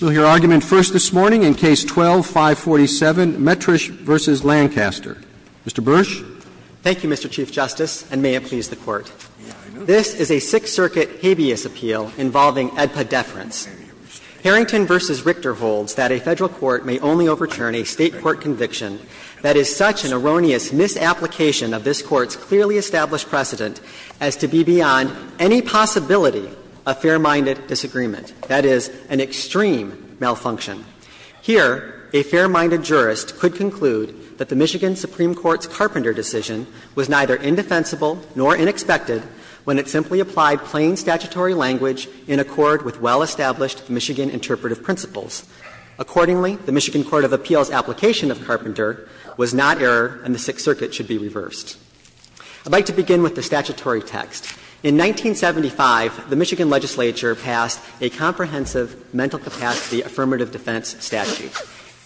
We'll hear argument first this morning in Case 12-547, Metrish v. Lancaster. Mr. Bursch. Thank you, Mr. Chief Justice, and may it please the Court. This is a Sixth Circuit habeas appeal involving AEDPA deference. Harrington v. Richter holds that a Federal court may only overturn a State court conviction that is such an erroneous misapplication of this Court's clearly established precedent as to be beyond any possibility of fair-minded disagreement, that is, an extreme malfunction. Here, a fair-minded jurist could conclude that the Michigan Supreme Court's Carpenter decision was neither indefensible nor unexpected when it simply applied plain statutory language in accord with well-established Michigan interpretive principles. Accordingly, the Michigan Court of Appeals' application of Carpenter was not error and the Sixth Circuit should be reversed. I'd like to begin with the statutory text. In 1975, the Michigan legislature passed a comprehensive mental capacity affirmative defense statute.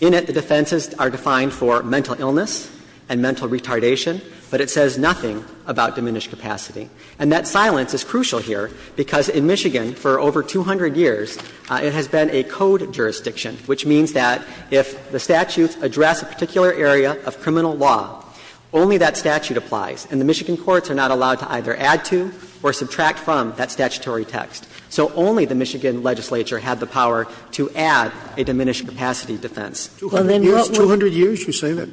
In it, the defenses are defined for mental illness and mental retardation, but it says nothing about diminished capacity. And that silence is crucial here because in Michigan, for over 200 years, it has been a code jurisdiction, which means that if the statutes address a particular area of criminal law, only that statute applies and the Michigan courts are not allowed to either add to or subtract from that statutory text. So only the Michigan legislature had the power to add a diminished capacity defense. Sotomayor's 200 years, you say that?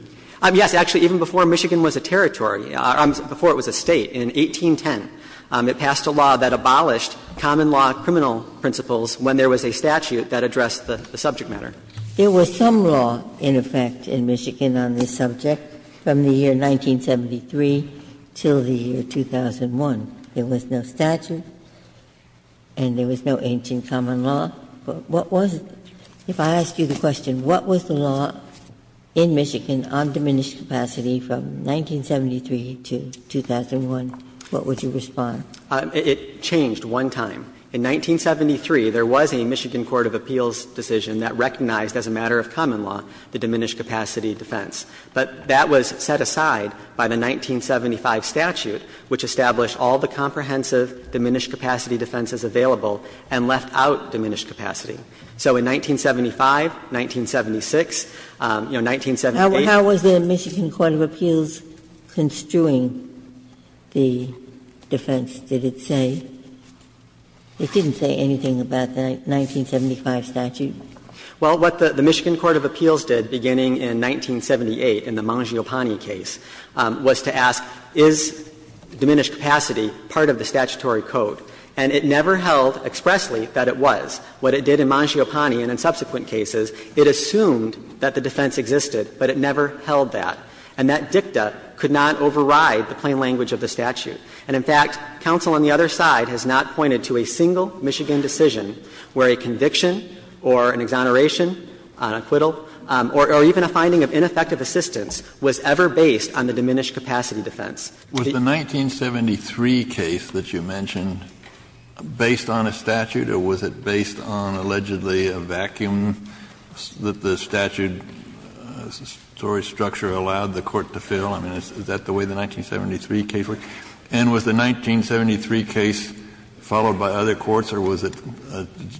Yes, actually, even before Michigan was a territory, before it was a State, in 1810, it passed a law that abolished common law criminal principles when there was a statute that addressed the subject matter. There was some law in effect in Michigan on this subject from the year 1973 till the year 2001. There was no statute and there was no ancient common law, but what was it? If I ask you the question, what was the law in Michigan on diminished capacity from 1973 to 2001, what would you respond? It changed one time. In 1973, there was a Michigan court of appeals decision that recognized as a matter of common law the diminished capacity defense, but that was set aside by the 1975 statute, which established all the comprehensive diminished capacity defenses available and left out diminished capacity. So in 1975, 1976, you know, 1978. How was the Michigan court of appeals construing the defense, did it say? It didn't say anything about the 1975 statute? Well, what the Michigan court of appeals did beginning in 1978 in the Mangiopane case was to ask, is diminished capacity part of the statutory code? And it never held expressly that it was. What it did in Mangiopane and in subsequent cases, it assumed that the defense existed, but it never held that. And that dicta could not override the plain language of the statute. And, in fact, counsel on the other side has not pointed to a single Michigan decision where a conviction or an exoneration, an acquittal, or even a finding of ineffective assistance was ever based on the diminished capacity defense. Was the 1973 case that you mentioned based on a statute, or was it based on, allegedly, a vacuum that the statute's storage structure allowed the court to fill? I mean, is that the way the 1973 case worked? And was the 1973 case followed by other courts, or was it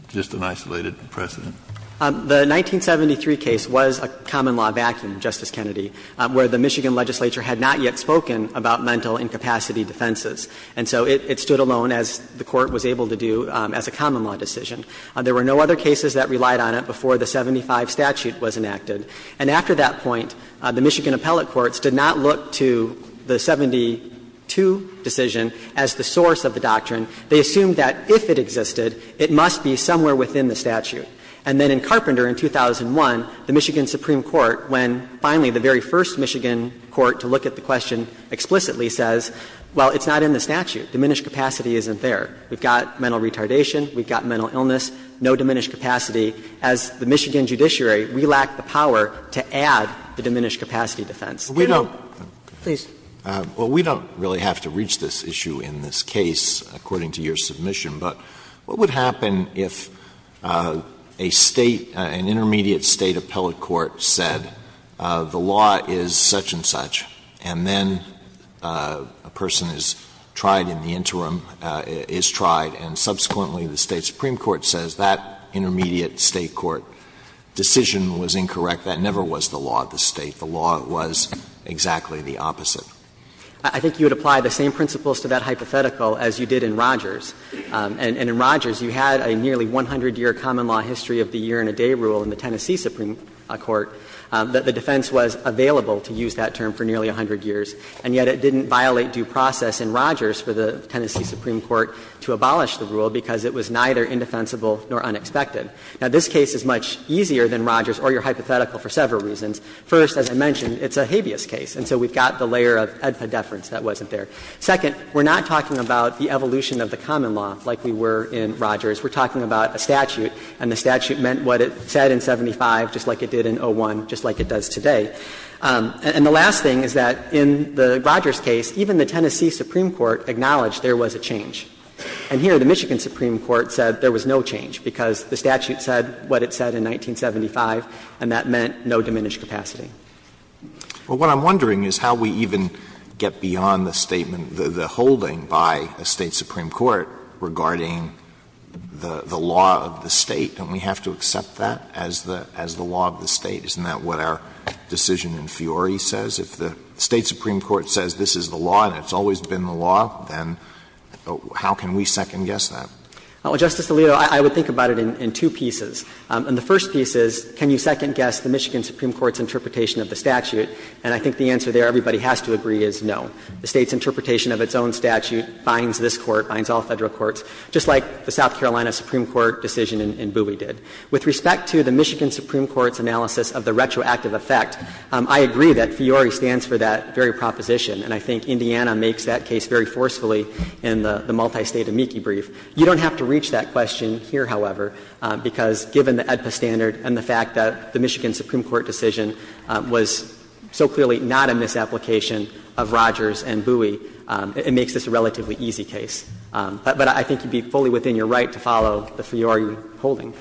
just an isolated precedent? The 1973 case was a common law vacuum, Justice Kennedy, where the Michigan legislature had not yet spoken about mental incapacity defenses. And so it stood alone, as the Court was able to do, as a common law decision. There were no other cases that relied on it before the 75 statute was enacted. And after that point, the Michigan appellate courts did not look to the 72 decision as the source of the doctrine. They assumed that if it existed, it must be somewhere within the statute. And then in Carpenter in 2001, the Michigan Supreme Court, when finally the very first Michigan court to look at the question explicitly says, well, it's not in the statute. Diminished capacity isn't there. We've got mental retardation. We've got mental illness. No diminished capacity. As the Michigan judiciary, we lack the power to add the diminished capacity defense. Alito, please. Alito, we don't really have to reach this issue in this case, according to your submission. But what would happen if a State, an intermediate State appellate court said the law is such-and-such, and then a person is tried in the interim, is tried, and subsequently the State supreme court says that intermediate State court decision was incorrect? That never was the law of the State. The law was exactly the opposite. I think you would apply the same principles to that hypothetical as you did in Rogers. And in Rogers, you had a nearly 100-year common law history of the year-and-a-day rule in the Tennessee supreme court that the defense was available to use that term for nearly 100 years. And yet it didn't violate due process in Rogers for the Tennessee supreme court to abolish the rule because it was neither indefensible nor unexpected. Now, this case is much easier than Rogers, or your hypothetical, for several reasons. First, as I mentioned, it's a habeas case, and so we've got the layer of edpa deference that wasn't there. Second, we're not talking about the evolution of the common law like we were in Rogers. We're talking about a statute, and the statute meant what it said in 75, just like it did in 01, just like it does today. And the last thing is that in the Rogers case, even the Tennessee supreme court acknowledged there was a change. And here, the Michigan supreme court said there was no change, because the statute said what it said in 1975, and that meant no diminished capacity. Alitoso, what I'm wondering is how we even get beyond the statement, the holding by a State supreme court regarding the law of the State. Don't we have to accept that as the law of the State? Isn't that what our decision in Fiori says? If the State supreme court says this is the law and it's always been the law, then how can we second-guess that? Well, Justice Alito, I would think about it in two pieces. In the first piece is, can you second-guess the Michigan supreme court's interpretation of the statute? And I think the answer there, everybody has to agree, is no. The State's interpretation of its own statute binds this Court, binds all Federal courts, just like the South Carolina supreme court decision in Booey did. With respect to the Michigan supreme court's analysis of the retroactive effect, I agree that Fiori stands for that very proposition, and I think Indiana makes that case very forcefully in the multi-State amici brief. You don't have to reach that question here, however, because given the AEDPA standard and the fact that the Michigan supreme court decision was so clearly not a misapplication of Rogers and Booey, it makes this a relatively easy case. But I think you'd be fully within your right to follow the Fiori holding.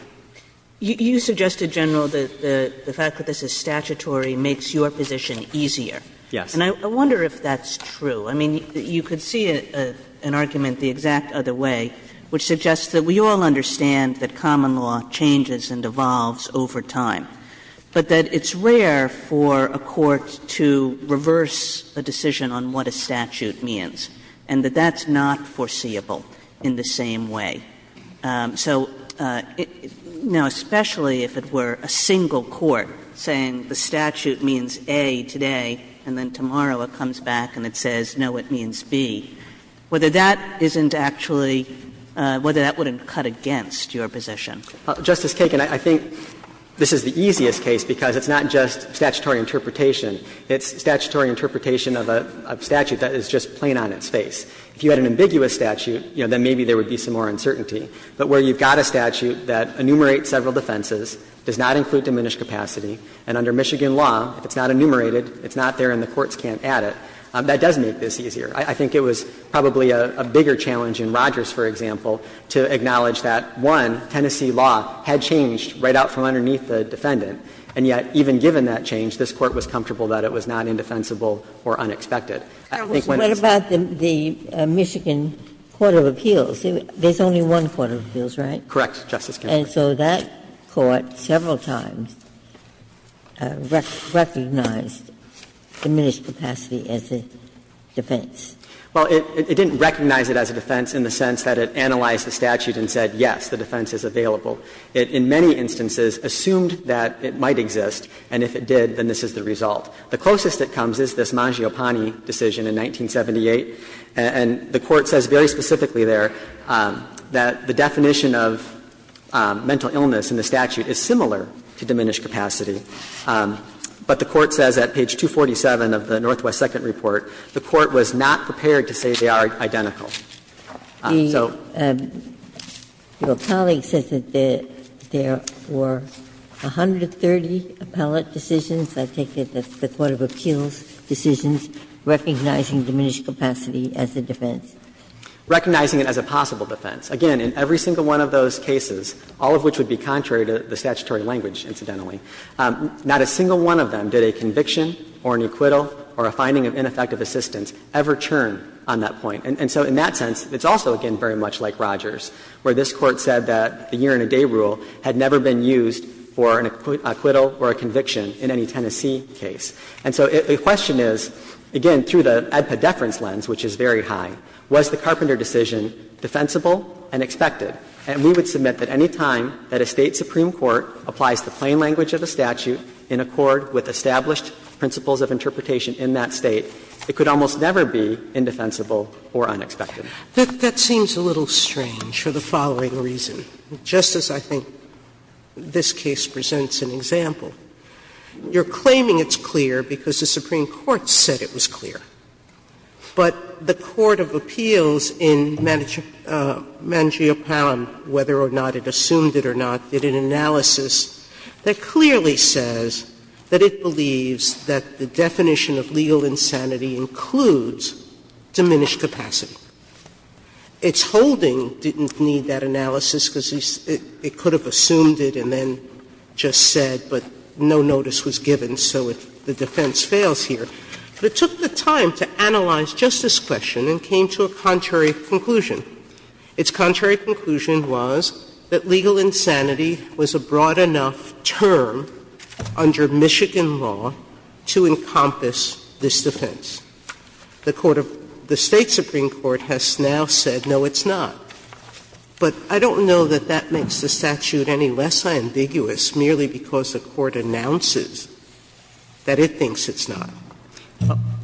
You suggested, General, the fact that this is statutory makes your position easier. Yes. And I wonder if that's true. I mean, you could see an argument the exact other way, which suggests that we all understand that common law changes and evolves over time, but that it's rare for a court to reverse a decision on what a statute means, and that that's not foreseeable in the same way. So, you know, especially if it were a single court saying the statute means A today and then tomorrow it comes back and it says, no, it means B, whether that isn't actually — whether that wouldn't cut against your position. Justice Kagan, I think this is the easiest case because it's not just statutory interpretation. It's statutory interpretation of a statute that is just plain on its face. If you had an ambiguous statute, you know, then maybe there would be some more uncertainty. But where you've got a statute that enumerates several defenses, does not include And under Michigan law, if it's not enumerated, it's not there and the courts can't add it. That does make this easier. I think it was probably a bigger challenge in Rogers, for example, to acknowledge that, one, Tennessee law had changed right out from underneath the defendant, and yet even given that change, this Court was comfortable that it was not indefensible or unexpected. I think when it's — What about the Michigan Court of Appeals? There's only one Court of Appeals, right? Correct, Justice Ginsburg. And so that Court several times recognized diminished capacity as a defense. Well, it didn't recognize it as a defense in the sense that it analyzed the statute and said, yes, the defense is available. It, in many instances, assumed that it might exist, and if it did, then this is the result. The closest it comes is this Mangiopane decision in 1978. And the Court says very specifically there that the definition of mental illness in the statute is similar to diminished capacity. But the Court says at page 247 of the Northwest Second Report, the Court was not prepared to say they are identical. So the Court of Appeals, the Court of Appeals, recognizes that there were 130 appellate cases in which the defendant was not identified as having diminished capacity as a defense. Recognizing it as a possible defense. Again, in every single one of those cases, all of which would be contrary to the statutory language, incidentally, not a single one of them did a conviction or an acquittal or a finding of ineffective assistance ever churn on that point. And so in that sense, it's also, again, very much like Rogers, where this Court said that the year-and-a-day rule had never been used for an acquittal or a conviction in any Tennessee case. And so the question is, again, through the EDPA deference lens, which is very high, was the Carpenter decision defensible and expected? And we would submit that any time that a State supreme court applies the plain language of a statute in accord with established principles of interpretation in that State, it could almost never be indefensible or unexpected. Sotomayor, that seems a little strange for the following reason. Just as I think this case presents an example. You're claiming it's clear because the Supreme Court said it was clear. But the court of appeals in Mangiopan, whether or not it assumed it or not, did an analysis that clearly says that it believes that the definition of legal insanity includes diminished capacity. Its holding didn't need that analysis because it could have assumed it and then just said, but no notice was given, so the defense fails here. But it took the time to analyze just this question and came to a contrary conclusion. Its contrary conclusion was that legal insanity was a broad enough term under Michigan law to encompass this defense. The court of the State supreme court has now said, no, it's not. But I don't know that that makes the statute any less ambiguous merely because the court announces that it thinks it's not.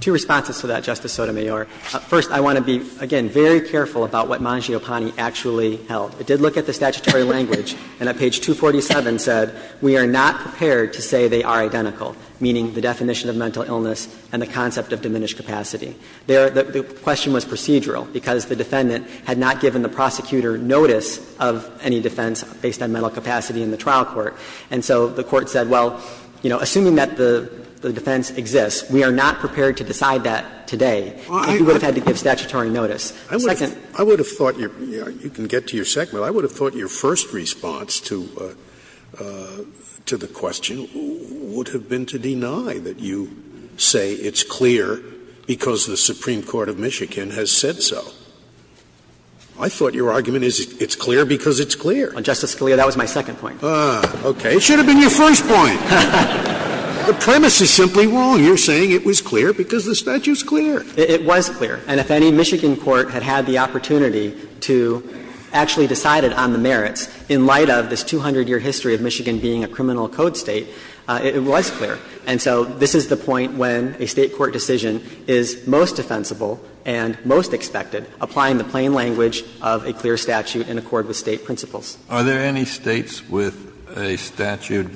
Two responses to that, Justice Sotomayor. First, I want to be, again, very careful about what Mangiopani actually held. It did look at the statutory language and at page 247 said, We are not prepared to say they are identical, meaning the definition of mental incapacity is diminished capacity. The question was procedural because the defendant had not given the prosecutor notice of any defense based on mental capacity in the trial court. And so the court said, well, you know, assuming that the defense exists, we are not prepared to decide that today. And he would have had to give statutory notice. I would have thought, you know, you can get to your second, but I would have thought your first response to the question would have been to deny that you say it's clear because the Supreme Court of Michigan has said so. I thought your argument is it's clear because it's clear. Justice Scalia, that was my second point. Ah, okay. It should have been your first point. The premise is simply wrong. You're saying it was clear because the statute's clear. It was clear. And if any Michigan court had had the opportunity to actually decide it on the merits in light of this 200-year history of Michigan being a criminal code State, it was clear. And so this is the point when a State court decision is most defensible and most expected, applying the plain language of a clear statute in accord with State principles. Kennedy, are there any States with a statute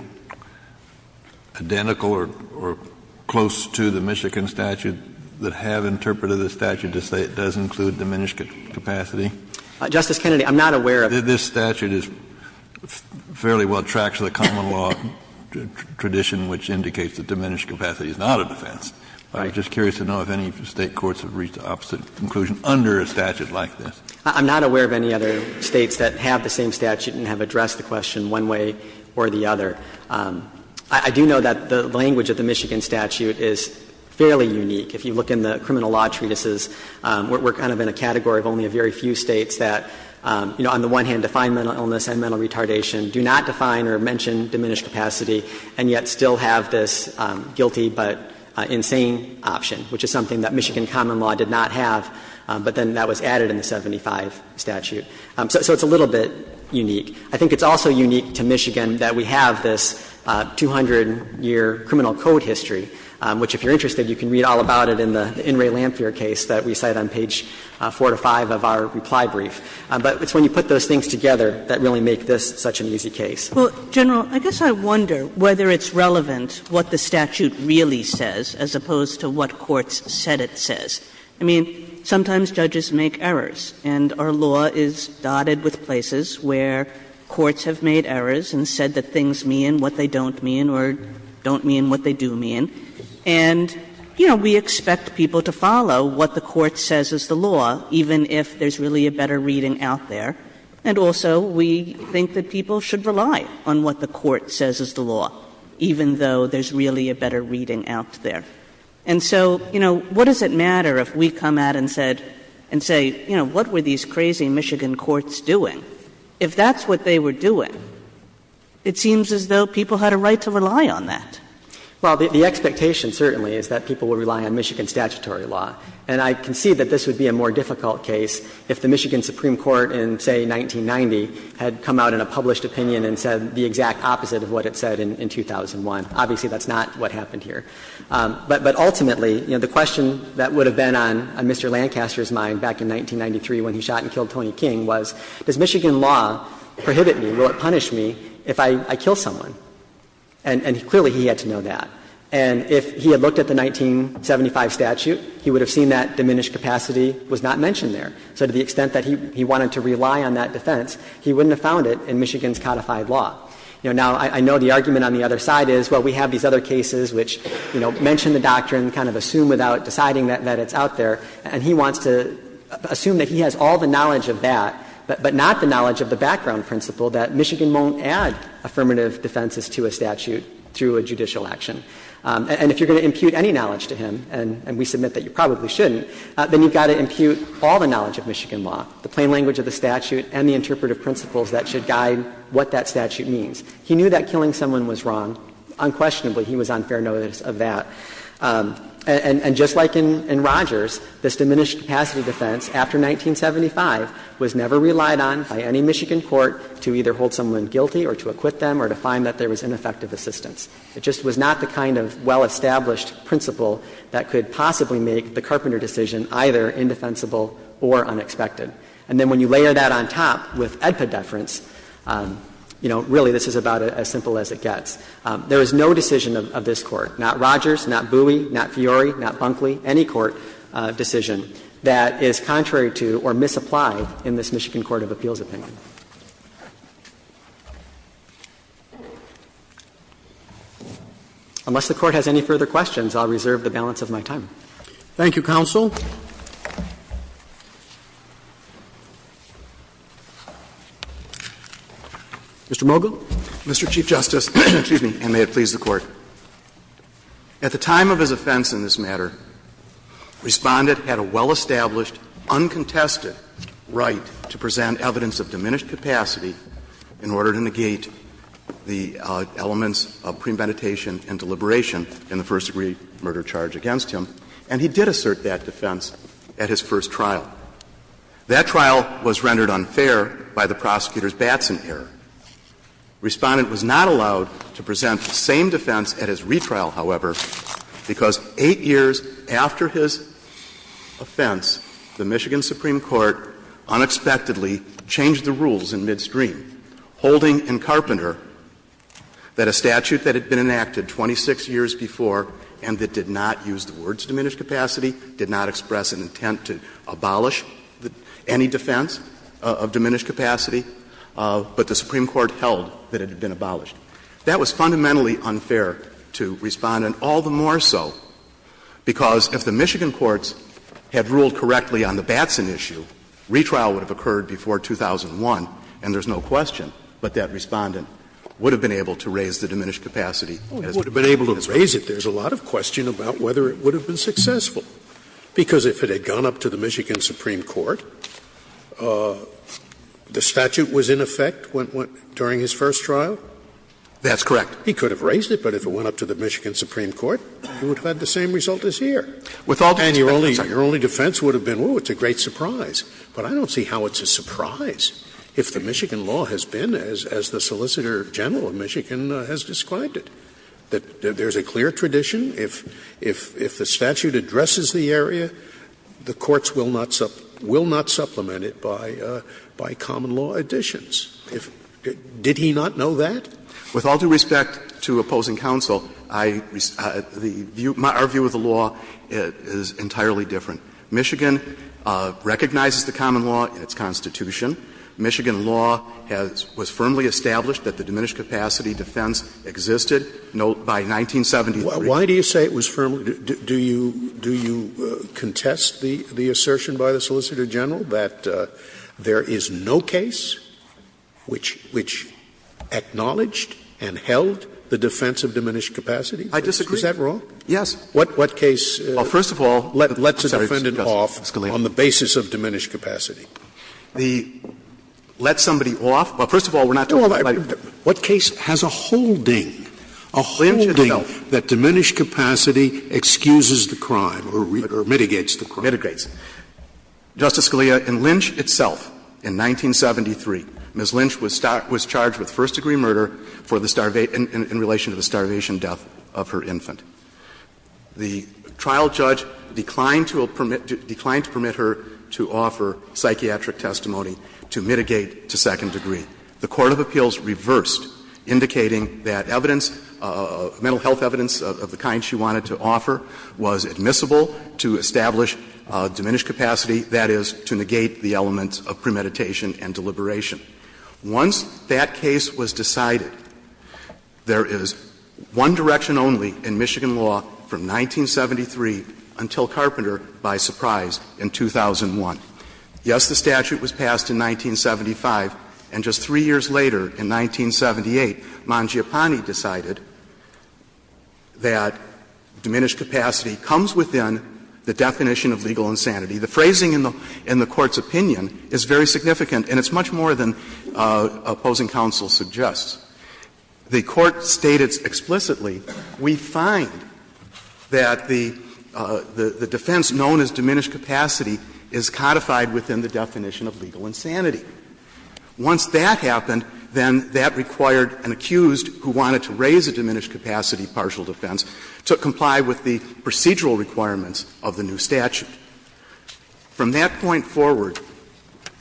identical or close to the Michigan statute that have interpreted the statute to say it does include diminished capacity? Justice Kennedy, I'm not aware of this. This statute is fairly well tracked to the common law tradition, which indicates that diminished capacity is not a defense. I'm just curious to know if any State courts have reached the opposite conclusion under a statute like this. I'm not aware of any other States that have the same statute and have addressed the question one way or the other. I do know that the language of the Michigan statute is fairly unique. If you look in the criminal law treatises, we're kind of in a category of only a very few States that, you know, on the one hand define mental illness and mental retardation, do not define or mention diminished capacity, and yet still have this guilty but insane option, which is something that Michigan common law did not have, but then that was added in the 75 statute. So it's a little bit unique. I think it's also unique to Michigan that we have this 200-year criminal code history, which, if you're interested, you can read all about it in the In re Lamphere case that we cite on page 4 to 5 of our reply brief. But it's when you put those things together that really make this such an easy case. Kagan. Well, General, I guess I wonder whether it's relevant what the statute really says as opposed to what courts said it says. I mean, sometimes judges make errors. And our law is dotted with places where courts have made errors and said that things mean what they don't mean or don't mean what they do mean. And, you know, we expect people to follow what the court says is the law, even if there's really a better reading out there. And also we think that people should rely on what the court says is the law, even though there's really a better reading out there. And so, you know, what does it matter if we come out and say, you know, what were these crazy Michigan courts doing? If that's what they were doing, it seems as though people had a right to rely on that. Well, the expectation certainly is that people will rely on Michigan statutory law. And I concede that this would be a more difficult case if the Michigan Supreme Court in, say, 1990 had come out in a published opinion and said the exact opposite of what it said in 2001. Obviously, that's not what happened here. But ultimately, you know, the question that would have been on Mr. Lancaster's mind back in 1993 when he shot and killed Tony King was, does Michigan law prohibit me? Will it punish me if I kill someone? And clearly he had to know that. And if he had looked at the 1975 statute, he would have seen that diminished capacity was not mentioned there. So to the extent that he wanted to rely on that defense, he wouldn't have found it in Michigan's codified law. You know, now I know the argument on the other side is, well, we have these other cases which, you know, mention the doctrine, kind of assume without deciding that it's out there. And he wants to assume that he has all the knowledge of that, but not the knowledge of the background principle that Michigan won't add affirmative defenses to a statute through a judicial action. And if you're going to impute any knowledge to him, and we submit that you probably shouldn't, then you've got to impute all the knowledge of Michigan law, the plain language of the statute and the interpretive principles that should guide what that statute means. He knew that killing someone was wrong. Unquestionably, he was on fair notice of that. And just like in Rogers, this diminished capacity defense after 1975 was never relied on by any Michigan court to either hold someone guilty or to acquit them or to find that there was ineffective assistance. It just was not the kind of well-established principle that could possibly make the Carpenter decision either indefensible or unexpected. And then when you layer that on top with Edpa deference, you know, really this is about as simple as it gets. There is no decision of this Court, not Rogers, not Bowie, not Fiore, not Bunkley, any court decision that is contrary to or misapplied in this Michigan court of appeals opinion. Unless the Court has any further questions, I'll reserve the balance of my time. Thank you, counsel. Mr. Mogill. Mr. Chief Justice, and may it please the Court. At the time of his offense in this matter, Respondent had a well-established, uncontested right to present evidence of diminished capacity in order to negate the elements of premeditation and deliberation in the first-degree murder charge against him, and he did assert that defense at his first trial. That trial was rendered unfair by the prosecutor's Batson error. Respondent was not allowed to present the same defense at his retrial, however, because 8 years after his offense, the Michigan Supreme Court unexpectedly changed the rules in Midstream, holding in Carpenter that a statute that had been diminished capacity did not express an intent to abolish any defense of diminished capacity, but the Supreme Court held that it had been abolished. That was fundamentally unfair to Respondent, all the more so because if the Michigan courts had ruled correctly on the Batson issue, retrial would have occurred before 2001, and there's no question, but that Respondent would have been able to raise the diminished capacity. Scalia. Oh, he would have been able to raise it. There's a lot of question about whether it would have been successful. Because if it had gone up to the Michigan Supreme Court, the statute was in effect during his first trial? That's correct. He could have raised it, but if it went up to the Michigan Supreme Court, it would have had the same result as here. With all due respect, I'm sorry. And your only defense would have been, oh, it's a great surprise. But I don't see how it's a surprise if the Michigan law has been, as the Solicitor General of Michigan has described it, that there's a clear tradition. If the statute addresses the area, the courts will not supplement it by common law additions. Did he not know that? With all due respect to opposing counsel, our view of the law is entirely different. Michigan recognizes the common law in its Constitution. Michigan law has been firmly established that the diminished capacity defense existed by 1973. Why do you say it was firmly? Do you contest the assertion by the Solicitor General that there is no case which acknowledged and held the defense of diminished capacity? I disagree. Is that wrong? Yes. What case lets a defendant off on the basis of diminished capacity? The let somebody off? Well, first of all, we're not talking about everybody. Scalia, in Lynch itself, in 1973, Ms. Lynch was charged with first-degree murder for the starvation, in relation to the starvation death of her infant. The trial judge declined to permit, declined to permit her to offer psychiatric testimony to mitigate to second degree. The court of appeals reversed, indicating that evidence, mental health evidence of the kind she wanted to offer, was admissible to establish diminished capacity, that is, to negate the element of premeditation and deliberation. Once that case was decided, there is one direction only in Michigan law from 1973 until Carpenter, by surprise, in 2001. Yes, the statute was passed in 1975, and just 3 years later, in 1978, Mangiapane decided that diminished capacity comes within the definition of legal insanity. The phrasing in the Court's opinion is very significant, and it's much more than opposing counsel suggests. The Court stated explicitly, we find that the defense known as diminished capacity is codified within the definition of legal insanity. Once that happened, then that required an accused who wanted to raise a diminished capacity partial defense to comply with the procedural requirements of the new statute. From that point forward,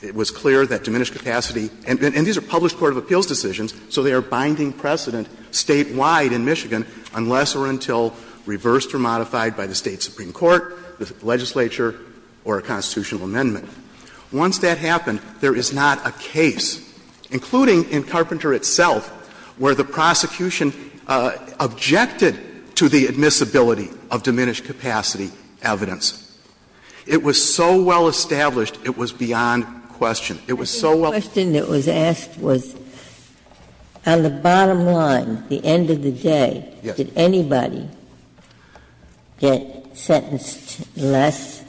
it was clear that diminished capacity — and these are published court of appeals decisions, so they are binding precedent statewide in Michigan unless or until reversed or modified by the State supreme court, the legislature or a constitutional amendment. Once that happened, there is not a case, including in Carpenter itself, where the prosecution objected to the admissibility of diminished capacity evidence. It was so well established, it was beyond question. It was so well established. Ginsburg's question that was asked was, on the bottom line, the end of the day, did anybody get sentenced less?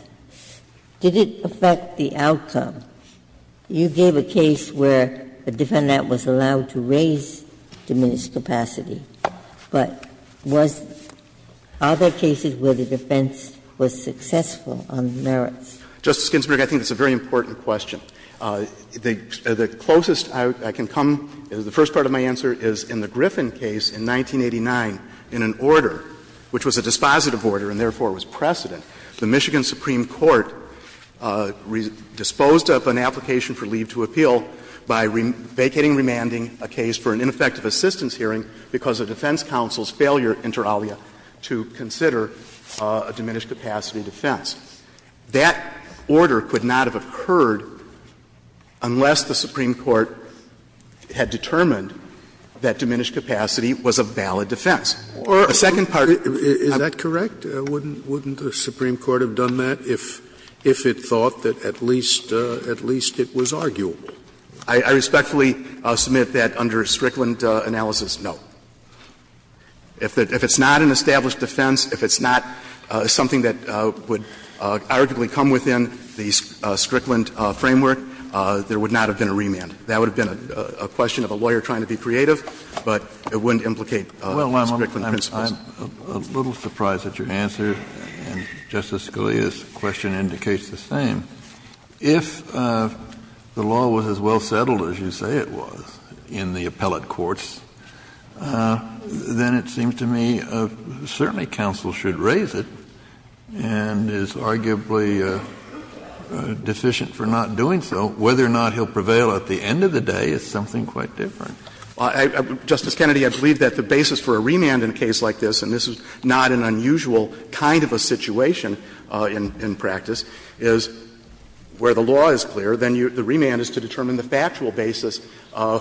Did it affect the outcome? You gave a case where a defendant was allowed to raise diminished capacity, but was — are there cases where the defense was successful on merits? Justice Ginsburg, I think that's a very important question. The closest I can come, the first part of my answer is in the Griffin case in 1989, in an order which was a dispositive order and therefore was precedent, the Michigan supreme court disposed of an application for leave to appeal by vacating, remanding a case for an ineffective assistance hearing because of defense counsel's failure, inter alia, to consider a diminished capacity defense. That order could not have occurred unless the supreme court had determined that diminished capacity was a valid defense. The second part of my answer is that the Supreme Court would have done that if it thought that at least, at least it was arguable. I respectfully submit that under Strickland analysis, no. If it's not an established defense, if it's not something that would arguably come within the Strickland framework, there would not have been a remand. That would have been a question of a lawyer trying to be creative, but it wouldn't implicate Strickland principles. Kennedy, I'm a little surprised at your answer. And Justice Scalia's question indicates the same. If the law was as well settled as you say it was in the appellate courts, then it seems to me certainly counsel should raise it and is arguably deficient for not doing so. Whether or not he'll prevail at the end of the day is something quite different. Justice Kennedy, I believe that the basis for a remand in a case like this, and this is not an unusual kind of a situation in practice, is where the law is clear, then the remand is to determine the factual basis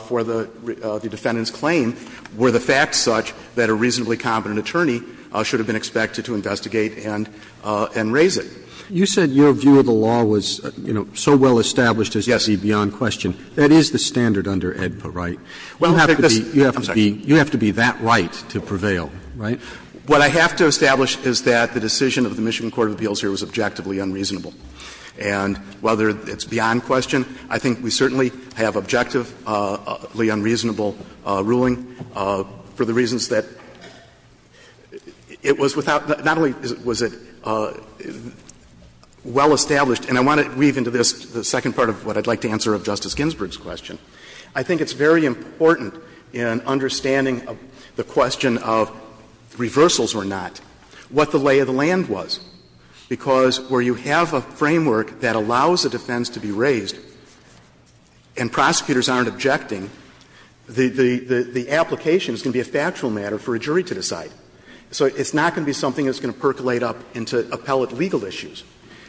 for the defendant's claim, were the facts such that a reasonably competent attorney should have been expected to investigate and raise it. Roberts. You said your view of the law was, you know, so well established as to be beyond question. That is the standard under AEDPA, right? You have to be that right to prevail, right? What I have to establish is that the decision of the Michigan court of appeals here was objectively unreasonable. And whether it's beyond question, I think we certainly have objectively unreasonable ruling for the reasons that it was without not only was it well established and I want to weave into this the second part of what I'd like to answer of Justice Ginsburg's question. I think it's very important in understanding the question of reversals or not, what the lay of the land was, because where you have a framework that allows a defense to be raised and prosecutors aren't objecting, the application is going to be a factual matter for a jury to decide. So it's not going to be something that's going to percolate up into appellate legal issues.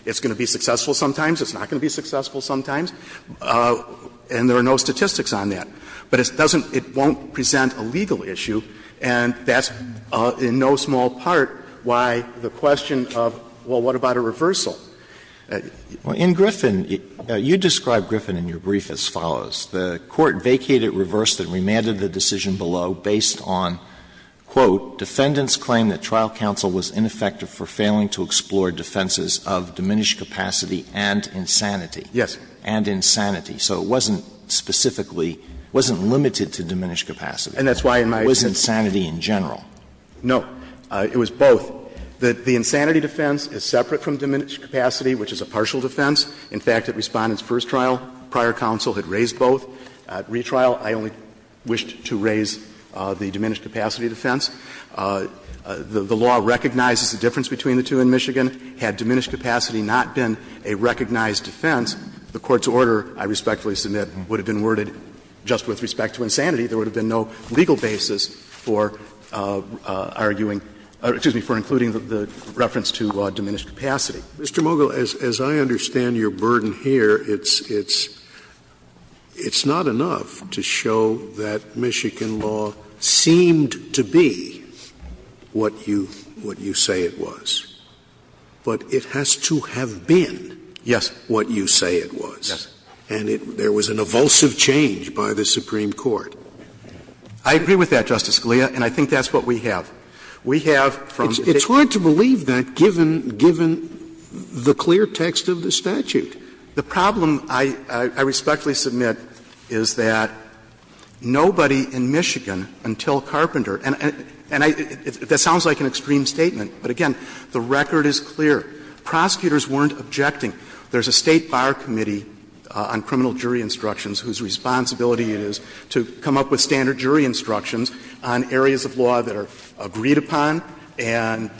It's going to be successful sometimes, it's not going to be successful sometimes, and there are no statistics on that. But it doesn't — it won't present a legal issue, and that's in no small part why the question of, well, what about a reversal? Alitoson In Griffin, you describe Griffin in your brief as follows. The Court vacated, reversed, and remanded the decision below based on, quote, Defendant's claim that trial counsel was ineffective for failing to explore defenses of diminished capacity and insanity. Verrilli, and insanity. So it wasn't specifically — it wasn't limited to diminished capacity. Verrilli, and that's why in my brief, it was insanity in general. Verrilli, No. It was both. The insanity defense is separate from diminished capacity, which is a partial defense. In fact, at Respondent's first trial, prior counsel had raised both. At retrial, I only wished to raise the diminished capacity defense. The law recognizes the difference between the two in Michigan. Had diminished capacity not been a recognized defense, the Court's order, I respectfully submit, would have been worded just with respect to insanity. There would have been no legal basis for arguing — excuse me, for including the reference to diminished capacity. Scalia. Mr. Mogill, as I understand your burden here, it's not enough to show that Michigan law seemed to be what you say it was. But it has to have been what you say it was. And there was an evulsive change by the Supreme Court. Mogill, I agree with that, Justice Scalia, and I think that's what we have. We have, from the text of the statute, Scalia It's hard to believe that, given the clear text of the statute. The problem, I respectfully submit, is that nobody in Michigan until Carpenter and I — that sounds like an extreme statement, but again, the record is clear. Prosecutors weren't objecting. There's a State Bar Committee on criminal jury instructions whose responsibility it is to come up with standard jury instructions on areas of law that are agreed upon and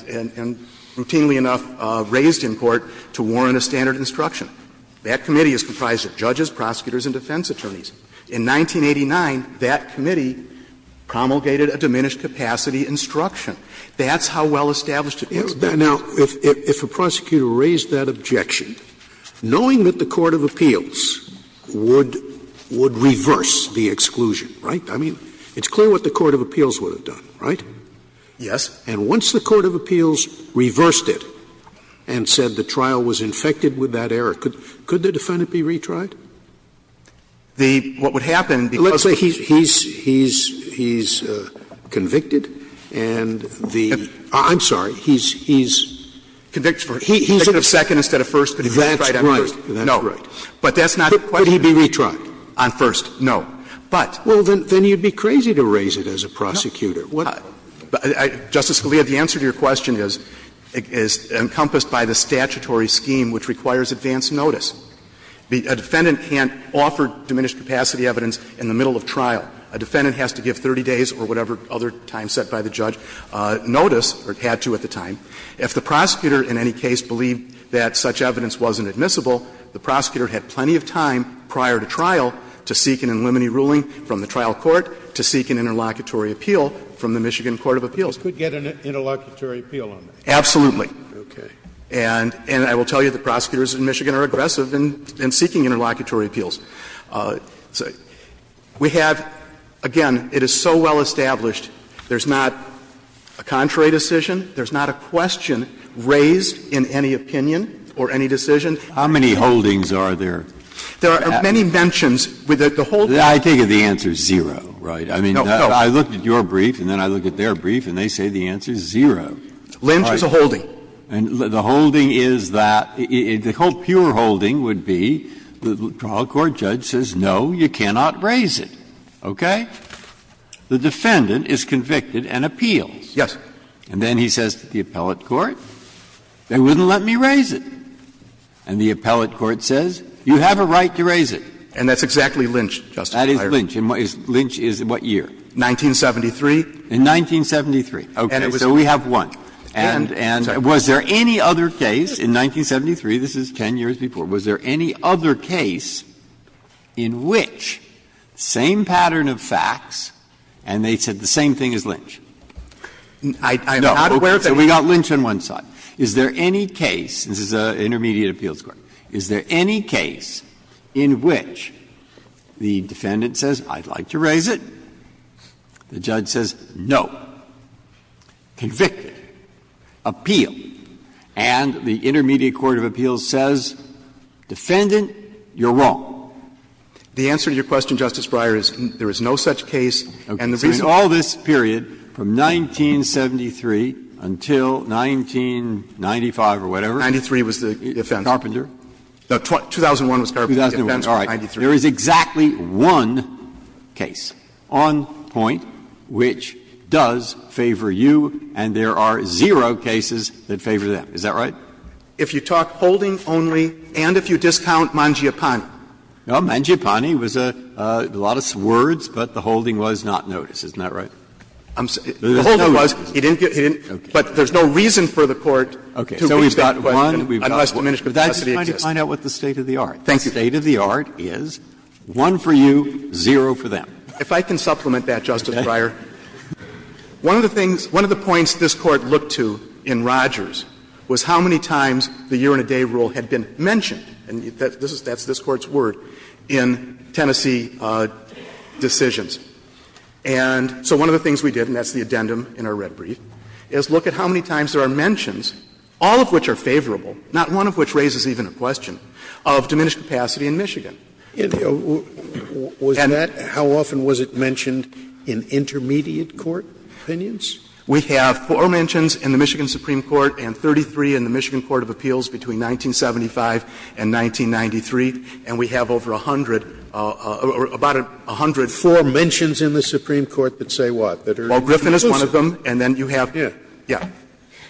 routinely enough raised in court to warrant a standard instruction. That committee is comprised of judges, prosecutors, and defense attorneys. In 1989, that committee promulgated a diminished capacity instruction. That's how well established it was. Scalia Now, if a prosecutor raised that objection, knowing that the court of appeals would reverse the exclusion, right? I mean, it's clear what the court of appeals would have done, right? Mogill, Yes. Scalia And once the court of appeals reversed it and said the trial was infected with that error, could the defendant be retried? Mogill, The — what would happen, because he's convicted, and the — Scalia I'm sorry. He's convicted for second instead of first, but he's retried on first. Mogill, That's right. That's right. Mogill, But that's not the question. Scalia Could he be retried on first? Mogill, No. But — Scalia Well, then you'd be crazy to raise it as a prosecutor. Mogill, Justice Scalia, the answer to your question is encompassed by the statutory scheme, which requires advance notice. A defendant can't offer diminished capacity evidence in the middle of trial. A defendant has to give 30 days or whatever other time set by the judge notice, or had to at the time. If the prosecutor in any case believed that such evidence wasn't admissible, the prosecutor had plenty of time prior to trial to seek an in limine ruling from the trial court, to seek an interlocutory appeal from the Michigan court of appeals. Scalia You could get an interlocutory appeal on that. Mogill, Absolutely. Scalia Okay. Mogill, And that's why I'm saying that the court has been seeking interlocutory appeals. We have, again, it is so well established, there's not a contrary decision, there's not a question raised in any opinion or any decision. Breyer How many holdings are there? Mogill, There are many mentions. Breyer I think the answer is zero, right? I mean, I looked at your brief and then I looked at their brief and they say the answer is zero. Mogill, Lynch is a holding. Breyer And the holding is that, the whole pure holding would be the trial court judge says, no, you cannot raise it, okay? The defendant is convicted and appeals. Mogill, Yes. Breyer And then he says to the appellate court, you wouldn't let me raise it. And the appellate court says, you have a right to raise it. Mogill, And that's exactly Lynch, Justice Breyer. Breyer That is Lynch. And Lynch is in what year? Mogill, 1973. Breyer In 1973. Mogill, Okay. Breyer So we have one. And was there any other case in 1973, this is 10 years before, was there any other case in which same pattern of facts and they said the same thing as Lynch? Mogill, I'm not aware of any. Breyer So we got Lynch on one side. Is there any case, this is an intermediate appeals court, is there any case in which the defendant says, I'd like to raise it, the judge says, no, convicted. Appeal. And the intermediate court of appeals says, defendant, you're wrong. Mogill, The answer to your question, Justice Breyer, is there is no such case. And the reason why. Breyer So in all this period, from 1973 until 1995 or whatever. Mogill, 93 was the offense. Breyer Carpenter. Mogill, No, 2001 was Carpenter. The offense was 93. Breyer All right. There is exactly one case on point which does favor you, and there are zero cases that favor them, is that right? Mogill, If you talk holding only and if you discount Mangiapane. Breyer Mangiapane was a lot of words, but the holding was not noticed, isn't that right? Mogill, The holding was, but there's no reason for the court to raise that question Breyer So we've got one, we've got one. One for you, zero for them. Mogill, If I can supplement that, Justice Breyer, one of the things, one of the points this Court looked to in Rogers was how many times the year-and-a-day rule had been mentioned, and that's this Court's word, in Tennessee decisions. And so one of the things we did, and that's the addendum in our red brief, is look at how many times there are mentions, all of which are favorable, not one of which raises even a question, of diminished capacity in Michigan. Scalia Was that, how often was it mentioned in intermediate court opinions? Mogill, We have four mentions in the Michigan Supreme Court and 33 in the Michigan Court of Appeals between 1975 and 1993, and we have over 100, about 100. Scalia Four mentions in the Supreme Court that say what? Mogill, Well, Griffin is one of them, and then you have, yeah. Scalia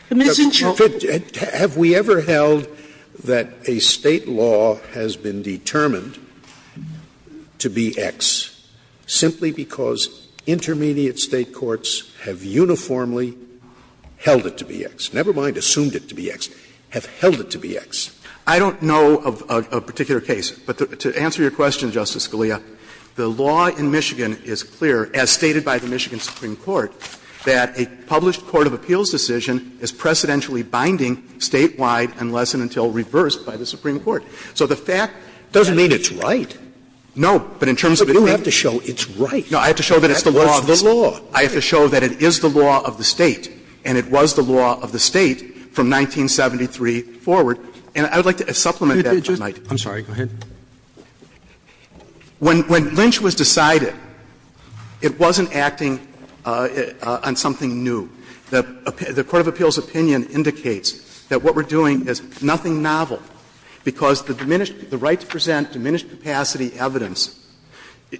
The Missing Children's Court. And the law has been determined to be X simply because intermediate State courts have uniformly held it to be X. Never mind assumed it to be X. Have held it to be X. Mogill, I don't know of a particular case, but to answer your question, Justice Scalia, the law in Michigan is clear, as stated by the Michigan Supreme Court, that a published court of appeals decision is precedentially binding statewide unless and until reversed by the Supreme Court. So the fact that Scalia It doesn't mean it's right. Mogill, No. But in terms of it being But you have to show it's right. Mogill, No. I have to show that it's the law of the State. Scalia What's the law? Mogill, I have to show that it is the law of the State, and it was the law of the State from 1973 forward. And I would like to supplement that, if I might. Scalia I'm sorry. Go ahead. Mogill, When Lynch was decided, it wasn't acting on something new. The court of appeals opinion indicates that what we're doing is nothing novel, because the diminished the right to present diminished capacity evidence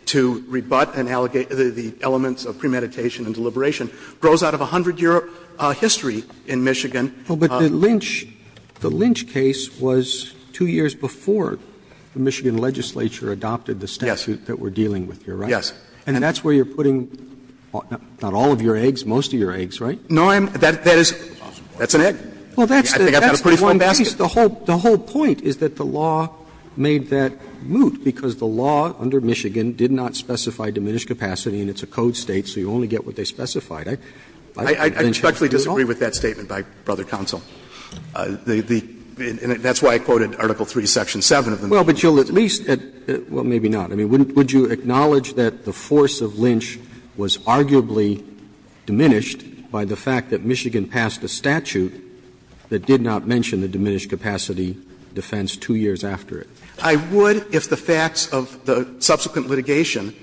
to rebut and allegate the elements of premeditation and deliberation grows out of a 100-year history in Michigan. Roberts Well, but the Lynch case was 2 years before the Michigan legislature adopted the statute that we're dealing with here, right? Mogill, Yes. Roberts And that's where you're putting not all of your eggs, most of your eggs, right? Mogill, No, I'm, that is, that's an egg. I think I've got a pretty full basket. Roberts The whole point is that the law made that moot, because the law under Michigan did not specify diminished capacity, and it's a code State, so you only get what I think Lynch has a good law. Mogill, I respectfully disagree with that statement by Brother Counsel. The, the, and that's why I quoted Article III, Section 7 of the Michigan statute. Roberts Well, but you'll at least, well, maybe not. I mean, would you acknowledge that the force of Lynch was arguably diminished by the fact that Michigan passed a statute that did not mention the diminished capacity defense 2 years after it? Mogill, I would if the facts of the subsequent litigation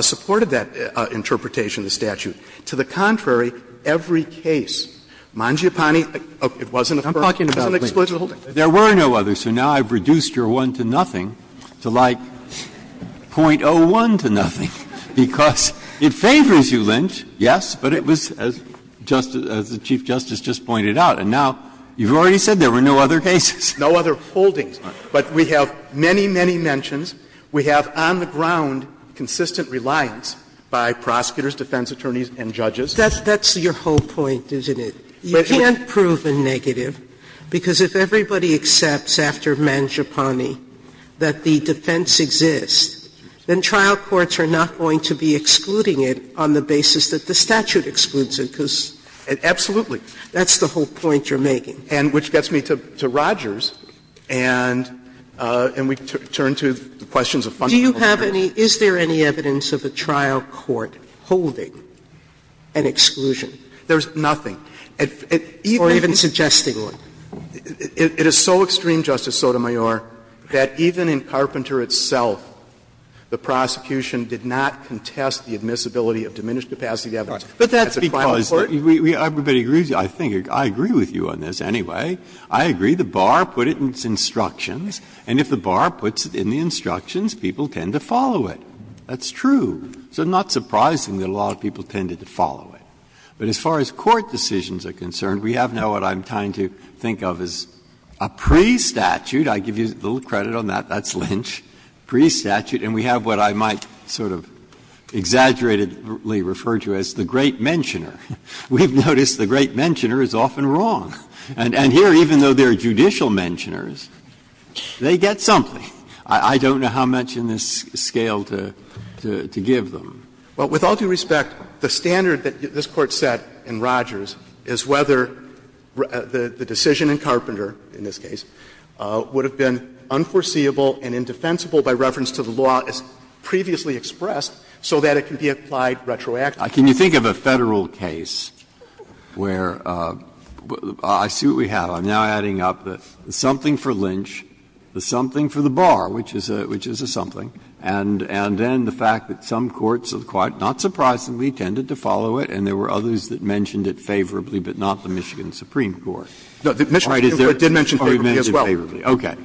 supported that interpretation of the statute. To the contrary, every case, Mangiapane, it wasn't a first, it wasn't an explosive holding. Breyer, There were no others, so now I've reduced your 1 to nothing to like .01 to nothing, because it favors you, Lynch, yes? But it was, as the Chief Justice just pointed out, and now you've already said there were no other cases. Mogill, No other holdings. But we have many, many mentions. We have on the ground consistent reliance by prosecutors, defense attorneys, and judges. Sotomayor That's your whole point, isn't it? You can't prove a negative, because if everybody accepts after Mangiapane that the defense exists, then trial courts are not going to be excluding it on the grounds that the statute excludes it, because that's the whole point you're making. Mogill, And which gets me to Rogers, and we turn to the questions of fundamentals. Sotomayor Do you have any, is there any evidence of a trial court holding an exclusion? Mogill, There's nothing. Sotomayor Or even suggesting one. Mogill, It is so extreme, Justice Sotomayor, that even in Carpenter itself, the prosecution did not contest the admissibility of diminished capacity evidence as a trial court. Breyer, But that's because everybody agrees, I think, I agree with you on this anyway. I agree the bar put it in its instructions, and if the bar puts it in the instructions, people tend to follow it. That's true. So it's not surprising that a lot of people tended to follow it. But as far as court decisions are concerned, we have now what I'm trying to think of as a pre-statute. I give you a little credit on that. That's Lynch. Pre-statute, and we have what I might sort of exaggeratedly refer to as the great mentioner. We've noticed the great mentioner is often wrong. And here, even though they are judicial mentioners, they get something. I don't know how much in this scale to give them. Mogill, Well, with all due respect, the standard that this Court set in Rogers is whether the decision in Carpenter, in this case, would have been unforeseeable and indefensible by reference to the law as previously expressed so that it can be applied retroactively. Breyer, Can you think of a Federal case where the – I see what we have. I'm now adding up the something for Lynch, the something for the bar, which is a something, and then the fact that some courts have quite, not surprisingly, tended to follow it, and there were others that mentioned it favorably, but not the Michigan Supreme Court. It did mention favorably as well. Breyer, All right.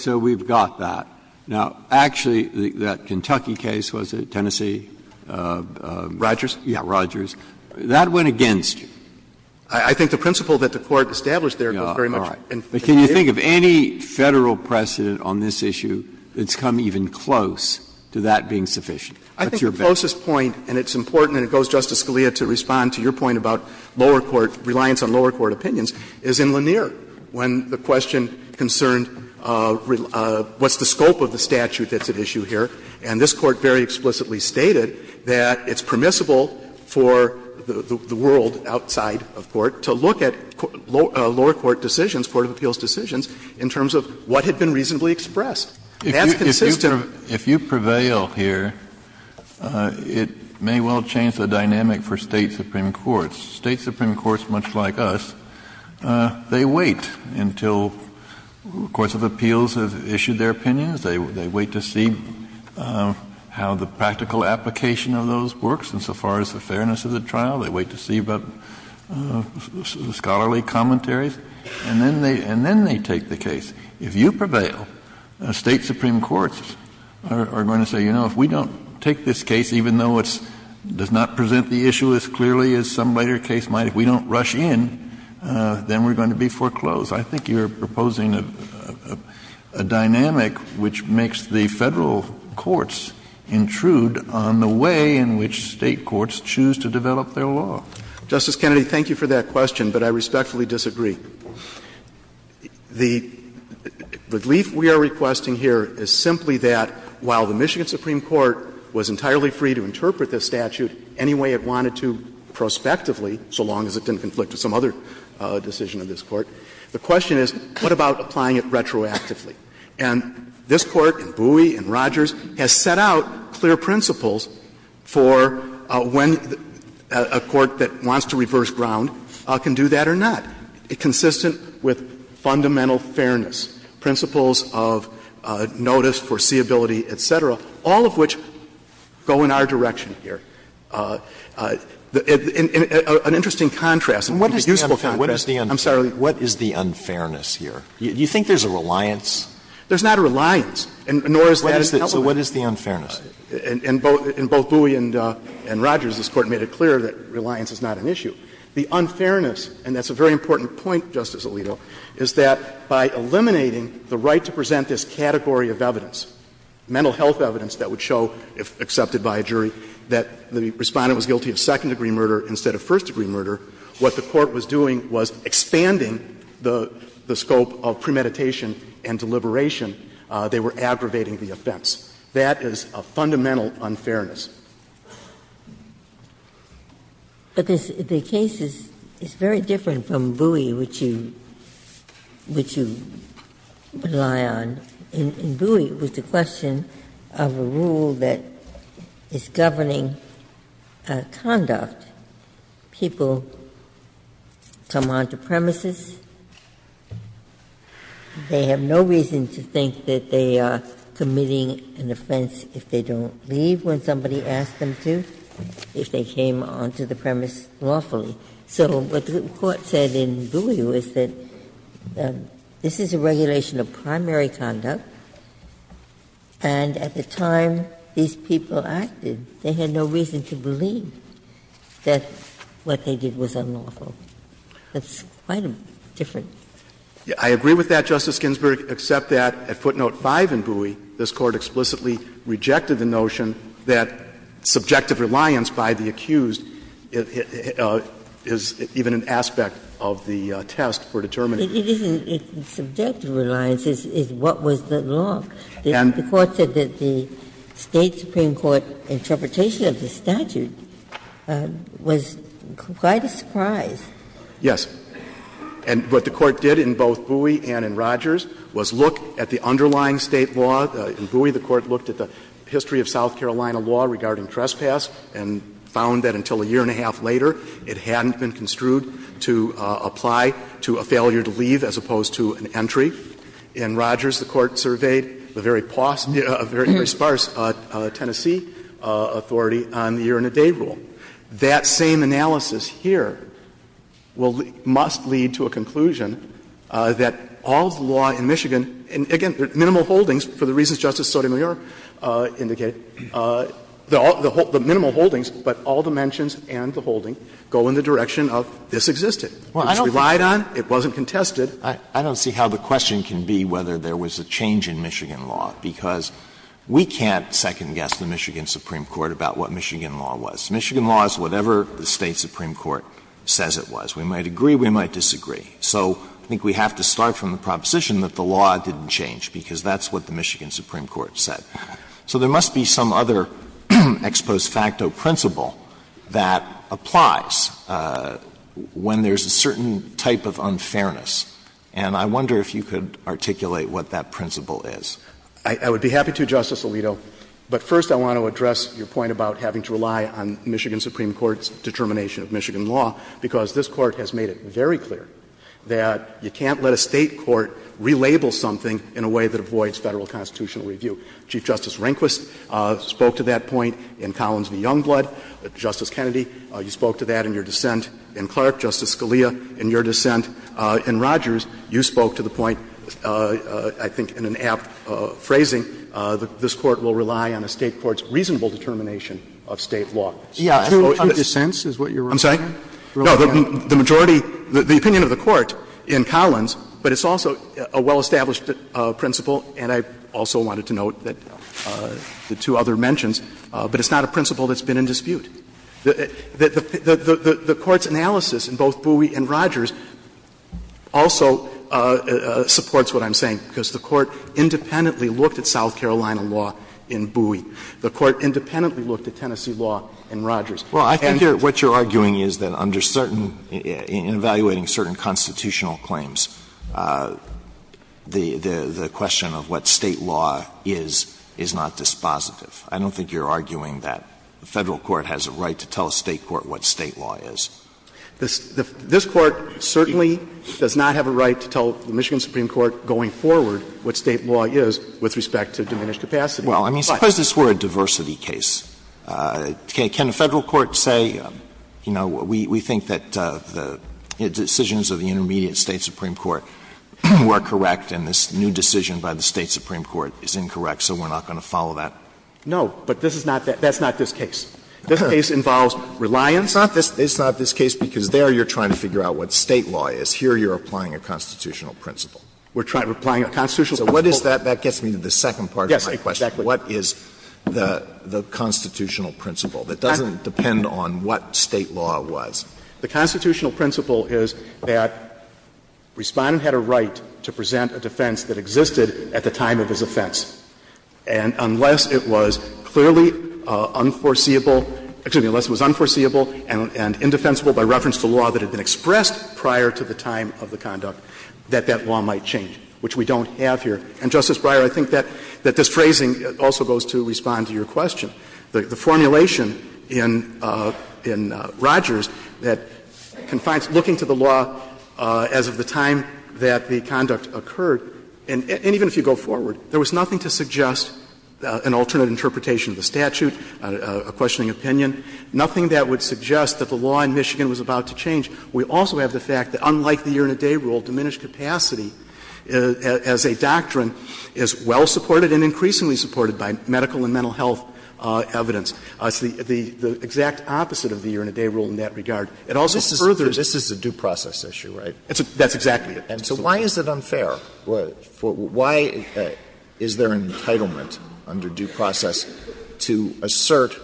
So we've got that. Now, actually, that Kentucky case, was it, Tennessee? Rogers? Yeah, Rogers. That went against you. I think the principle that the Court established there goes very much in favor of it. Can you think of any Federal precedent on this issue that's come even close to that being sufficient? I think the closest point, and it's important, and it goes, Justice Scalia, to respond to your point about lower court, reliance on lower court opinions, is in Lanier, when the question concerned what's the scope of the statute that's at issue here. And this Court very explicitly stated that it's permissible for the world outside of court to look at lower court decisions, court of appeals decisions, in terms of what had been reasonably expressed. That's consistent. If you prevail here, it may well change the dynamic for State supreme courts. State supreme courts, much like us, they wait until courts of appeals have issued their opinions. They wait to see how the practical application of those works insofar as the fairness of the trial. They wait to see about scholarly commentaries. And then they take the case. If you prevail, State supreme courts are going to say, you know, if we don't take this case, even though it does not present the issue as clearly as some later case might, if we don't rush in, then we're going to be foreclosed. I think you're proposing a dynamic which makes the Federal courts intrude on the way in which State courts choose to develop their law. Justice Kennedy, thank you for that question, but I respectfully disagree. The relief we are requesting here is simply that while the Michigan supreme court was entirely free to interpret this statute any way it wanted to prospectively, so long as it didn't conflict with some other decision of this Court, the question is what about applying it retroactively? And this Court, and Bouie and Rogers, has set out clear principles for when a court that wants to reverse ground can do that or not. It's consistent with fundamental fairness, principles of notice, foreseeability, et cetera, all of which go in our direction here. An interesting contrast, and a useful contrast. I'm sorry, what is the unfairness here? Do you think there's a reliance? There's not a reliance, nor is there an element. So what is the unfairness? In both Bouie and Rogers, this Court made it clear that reliance is not an issue. The unfairness, and that's a very important point, Justice Alito, is that by eliminating the right to present this category of evidence, mental health evidence that would show, if accepted by a jury, that the Respondent was guilty of second-degree murder instead of first-degree murder, what the Court was doing was expanding the scope of premeditation and deliberation. They were aggravating the offense. That is a fundamental unfairness. Ginsburg. But the case is very different from Bouie, which you rely on. In Bouie, it was the question of a rule that is governing conduct. People come onto premises. They have no reason to think that they are committing an offense if they don't leave when somebody asks them to, if they came onto the premise lawfully. So what the Court said in Bouie was that this is a regulation of primary conduct, and at the time these people acted, they had no reason to believe that what they did was unlawful. That's quite a different. I agree with that, Justice Ginsburg, except that at footnote 5 in Bouie, this Court explicitly rejected the notion that subjective reliance by the accused is even an aspect of the test for determining. It isn't subjective reliance. It's what was the law. And the Court said that the State supreme court interpretation of the statute was quite a surprise. Yes. And what the Court did in both Bouie and in Rogers was look at the underlying State law. In Bouie, the Court looked at the history of South Carolina law regarding trespass and found that until a year and a half later, it hadn't been construed to apply to a failure to leave as opposed to an entry. In Rogers, the Court surveyed the very sparse Tennessee authority on the year-and-a-day rule. That same analysis here will lead, must lead to a conclusion that all the law in Michigan and, again, minimal holdings for the reasons Justice Sotomayor indicated, the minimal holdings, but all the mentions and the holding go in the direction of this existed. It was relied on. It wasn't contested. Alito, I don't see how the question can be whether there was a change in Michigan law, because we can't second-guess the Michigan supreme court about what Michigan law was. Michigan law is whatever the State supreme court says it was. We might agree, we might disagree. So I think we have to start from the proposition that the law didn't change, because that's what the Michigan supreme court said. So there must be some other ex post facto principle that applies when there's a certain type of unfairness. And I wonder if you could articulate what that principle is. I would be happy to, Justice Alito. But first I want to address your point about having to rely on Michigan supreme court's determination of Michigan law, because this Court has made it very clear that you can't let a State court relabel something in a way that avoids Federal constitutional review. Chief Justice Rehnquist spoke to that point in Collins v. Youngblood. Justice Kennedy, you spoke to that in your dissent in Clark. Justice Scalia, in your dissent in Rogers, you spoke to the point, I think in an apt phrasing, that this Court will rely on a State court's reasonable determination of State law. Yeah. True dissents is what you're referring to? I'm sorry? No. The majority of the opinion of the Court in Collins, but it's also a well-established principle, and I also wanted to note that the two other mentions, but it's not a principle that's been in dispute. The Court's analysis in both Bowie and Rogers also supports what I'm saying, because the Court independently looked at South Carolina law in Bowie. The Court independently looked at Tennessee law in Rogers. Well, I think what you're arguing is that under certain – in evaluating certain constitutional claims, the question of what State law is, is not dispositive. I don't think you're arguing that the Federal court has a right to tell a State court what State law is. This Court certainly does not have a right to tell the Michigan Supreme Court going forward what State law is with respect to diminished capacity. Well, I mean, suppose this were a diversity case. Can a Federal court say, you know, we think that the decisions of the intermediate State Supreme Court were correct, and this new decision by the State Supreme Court is incorrect, so we're not going to follow that? No. But this is not that. That's not this case. This case involves reliance on this. It's not this case because there you're trying to figure out what State law is. Here you're applying a constitutional principle. We're trying to apply a constitutional principle. So what is that? That gets me to the second part of my question. What is the constitutional principle that doesn't depend on what State law was? The constitutional principle is that Respondent had a right to present a defense that existed at the time of his offense. And unless it was clearly unforeseeable — excuse me, unless it was unforeseeable and indefensible by reference to law that had been expressed prior to the time of the conduct, that that law might change, which we don't have here. And, Justice Breyer, I think that this phrasing also goes to respond to your question. The formulation in Rogers that confines looking to the law as of the time that the conduct occurred, and even if you go forward, there was nothing to suggest an alternate interpretation of the statute, a questioning opinion, nothing that would suggest We also have the fact that, unlike the year-in-a-day rule, diminished capacity as a doctrine is well-supported and increasingly supported by medical and mental health evidence. It's the exact opposite of the year-in-a-day rule in that regard. It also furthers. Alito, this is a due process issue, right? That's exactly it. And so why is it unfair? Why is there an entitlement under due process to assert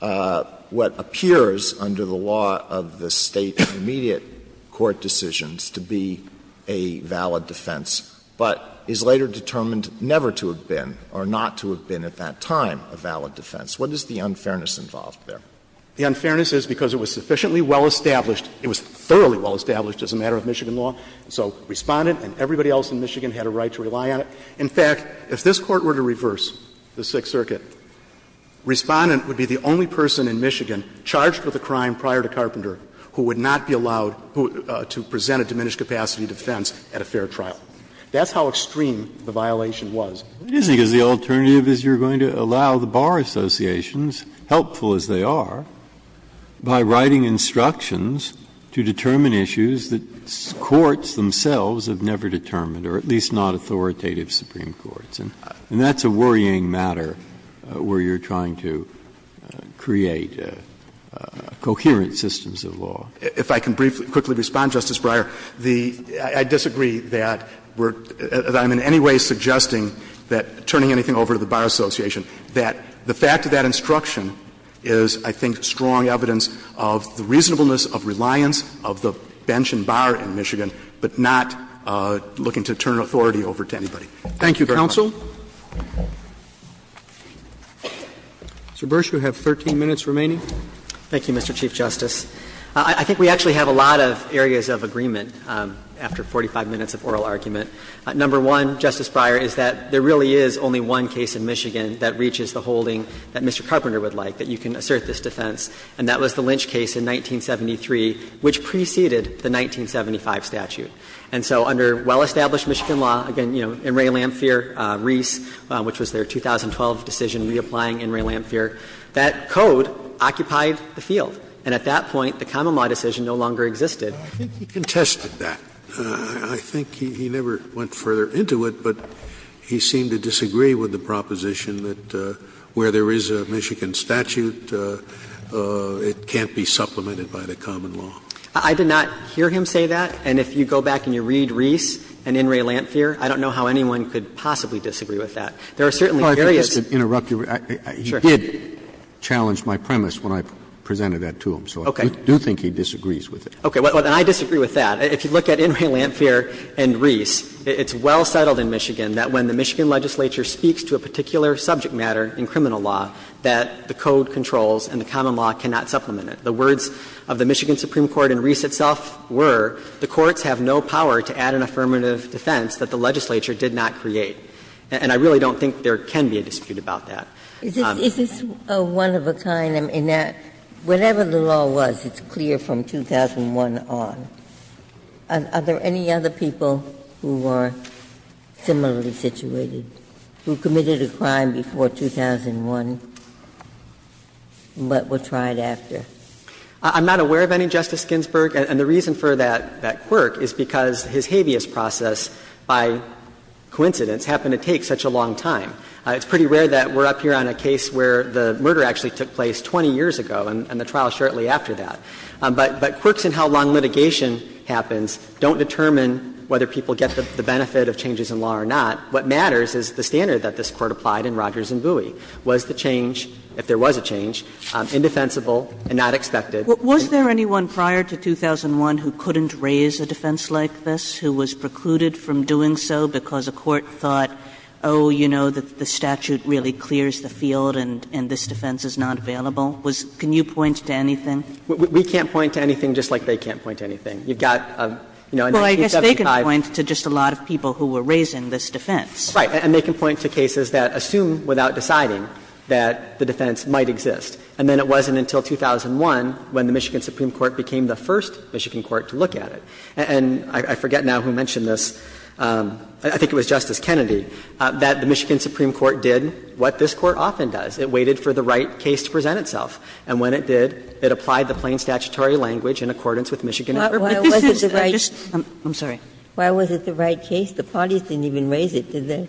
what appears under the law of the State immediate court decisions to be a valid defense, but is later determined never to have been or not to have been at that time a valid defense? What is the unfairness involved there? The unfairness is because it was sufficiently well-established. It was thoroughly well-established as a matter of Michigan law. So Respondent and everybody else in Michigan had a right to rely on it. In fact, if this Court were to reverse the Sixth Circuit, Respondent would be the only person in Michigan charged with a crime prior to Carpenter who would not be allowed to present a diminished capacity defense at a fair trial. That's how extreme the violation was. Breyer, what do you think is the alternative, is you're going to allow the bar associations, helpful as they are, by writing instructions to determine issues that courts themselves have never determined, or at least not authoritative Supreme Courts? And that's a worrying matter where you're trying to create coherent systems of law. If I can briefly, quickly respond, Justice Breyer, the — I disagree that we're — that I'm in any way suggesting that turning anything over to the bar association, that the fact of that instruction is, I think, strong evidence of the reasonableness of reliance of the bench and bar in Michigan, but not looking to turn authority over to anybody. Thank you very much. Mr. Bursch, you have 13 minutes remaining. Thank you, Mr. Chief Justice. I think we actually have a lot of areas of agreement after 45 minutes of oral argument. Number one, Justice Breyer, is that there really is only one case in Michigan that reaches the holding that Mr. Carpenter would like, that you can assert this defense, and that was the Lynch case in 1973, which preceded the 1975 statute. And so under well-established Michigan law, again, you know, In re Lamphere, Reese, which was their 2012 decision reapplying In re Lamphere, that code occupied the field. And at that point, the common law decision no longer existed. I think he contested that. I think he never went further into it, but he seemed to disagree with the proposition that where there is a Michigan statute, it can't be supplemented by the common law. I did not hear him say that. And if you go back and you read Reese and In re Lamphere, I don't know how anyone could possibly disagree with that. There are certainly areas. Roberts, if I could just interrupt you. He did challenge my premise when I presented that to him, so I do think he disagrees with it. Okay. Well, then I disagree with that. If you look at In re Lamphere and Reese, it's well settled in Michigan that when the Michigan legislature speaks to a particular subject matter in criminal law, that the code controls and the common law cannot supplement it. The words of the Michigan Supreme Court and Reese itself were, the courts have no power to add an affirmative defense that the legislature did not create. And I really don't think there can be a dispute about that. Ginsburg. Is this a one of a kind in that whatever the law was, it's clear from 2001 on. Are there any other people who are similarly situated, who committed a crime before 2001, but were tried after? I'm not aware of any, Justice Ginsburg. And the reason for that quirk is because his habeas process, by coincidence, happened to take such a long time. It's pretty rare that we're up here on a case where the murder actually took place 20 years ago and the trial shortly after that. But quirks in how long litigation happens don't determine whether people get the benefit of changes in law or not. What matters is the standard that this Court applied in Rogers and Bowie. Was the change, if there was a change, indefensible and not expected? Was there anyone prior to 2001 who couldn't raise a defense like this, who was precluded from doing so because a court thought, oh, you know, the statute really clears the field and this defense is not available? Can you point to anything? We can't point to anything, just like they can't point to anything. You've got, you know, in 1975. Kagan, to just a lot of people who were raising this defense. Right, and they can point to cases that assume without deciding that the defense might exist. And then it wasn't until 2001 when the Michigan Supreme Court became the first Michigan court to look at it. And I forget now who mentioned this. I think it was Justice Kennedy, that the Michigan Supreme Court did what this Court often does. It waited for the right case to present itself. And when it did, it applied the plain statutory language in accordance with Michigan and Irvine. But this is a just – I'm sorry. Why was it the right case? The parties didn't even raise it, did they?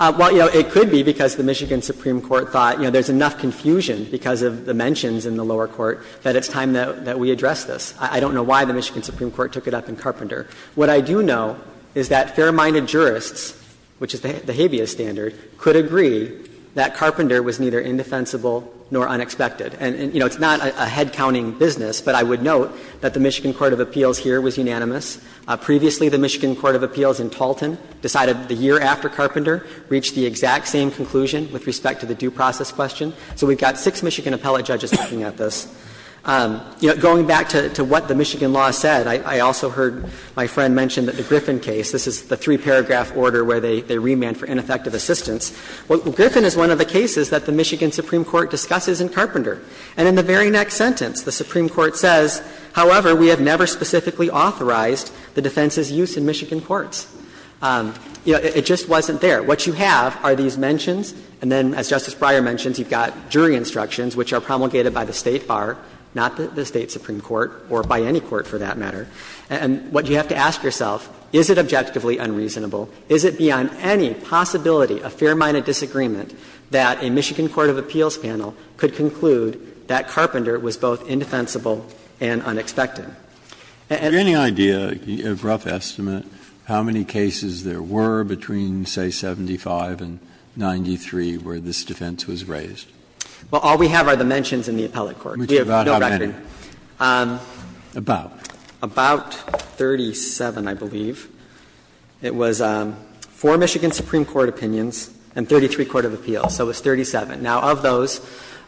Well, you know, it could be because the Michigan Supreme Court thought, you know, there's enough confusion because of the mentions in the lower court that it's time that we address this. I don't know why the Michigan Supreme Court took it up in Carpenter. What I do know is that fair-minded jurists, which is the habeas standard, could agree that Carpenter was neither indefensible nor unexpected. And, you know, it's not a head-counting business, but I would note that the Michigan court of appeals here was unanimous. Previously, the Michigan court of appeals in Talton decided the year after Carpenter reached the exact same conclusion with respect to the due process question. So we've got six Michigan appellate judges looking at this. You know, going back to what the Michigan law said, I also heard my friend mention that the Griffin case, this is the three-paragraph order where they remand for ineffective assistance. Well, Griffin is one of the cases that the Michigan Supreme Court discusses in Carpenter. And in the very next sentence, the Supreme Court says, however, we have never specifically authorized the defense's use in Michigan courts. You know, it just wasn't there. What you have are these mentions, and then, as Justice Breyer mentions, you've got jury instructions which are promulgated by the State bar, not the State supreme court, or by any court for that matter. And what you have to ask yourself, is it objectively unreasonable? Is it beyond any possibility a fair-minded disagreement that a Michigan court of appeals panel could conclude that Carpenter was both indefensible and unexpected? And the other thing is that the defense is not going to be able to do that. Breyer. And do you have any idea, a rough estimate, how many cases there were between, say, 75 and 93 where this defense was raised? Well, all we have are the mentions in the appellate court. We have no record. About how many? About. About 37, I believe. It was four Michigan supreme court opinions and 33 court of appeals. So it was 37. Now, of those,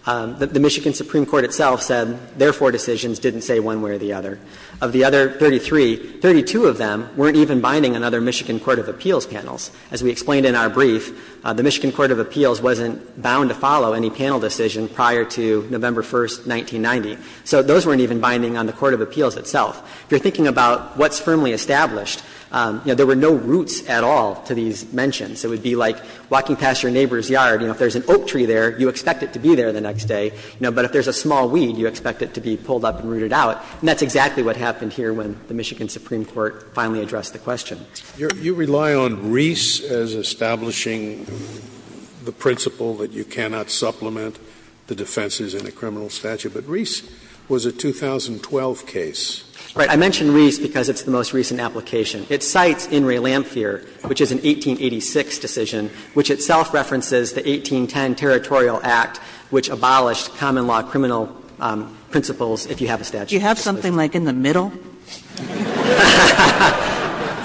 the Michigan supreme court itself said their four decisions didn't say one way or the other. Of the other 33, 32 of them weren't even binding on other Michigan court of appeals panels. As we explained in our brief, the Michigan court of appeals wasn't bound to follow any panel decision prior to November 1, 1990. So those weren't even binding on the court of appeals itself. If you're thinking about what's firmly established, you know, there were no roots at all to these mentions. It would be like walking past your neighbor's yard. You know, if there's an oak tree there, you expect it to be there the next day. You know, but if there's a small weed, you expect it to be pulled up and rooted out. And that's exactly what happened here when the Michigan supreme court finally addressed the question. You rely on Reese as establishing the principle that you cannot supplement the defenses in a criminal statute. But Reese was a 2012 case. Right. I mention Reese because it's the most recent application. It cites In re Lamphere, which is an 1886 decision, which itself references the 1810 Territorial Act, which abolished common law criminal principles if you have a statute. Do you have something like in the middle?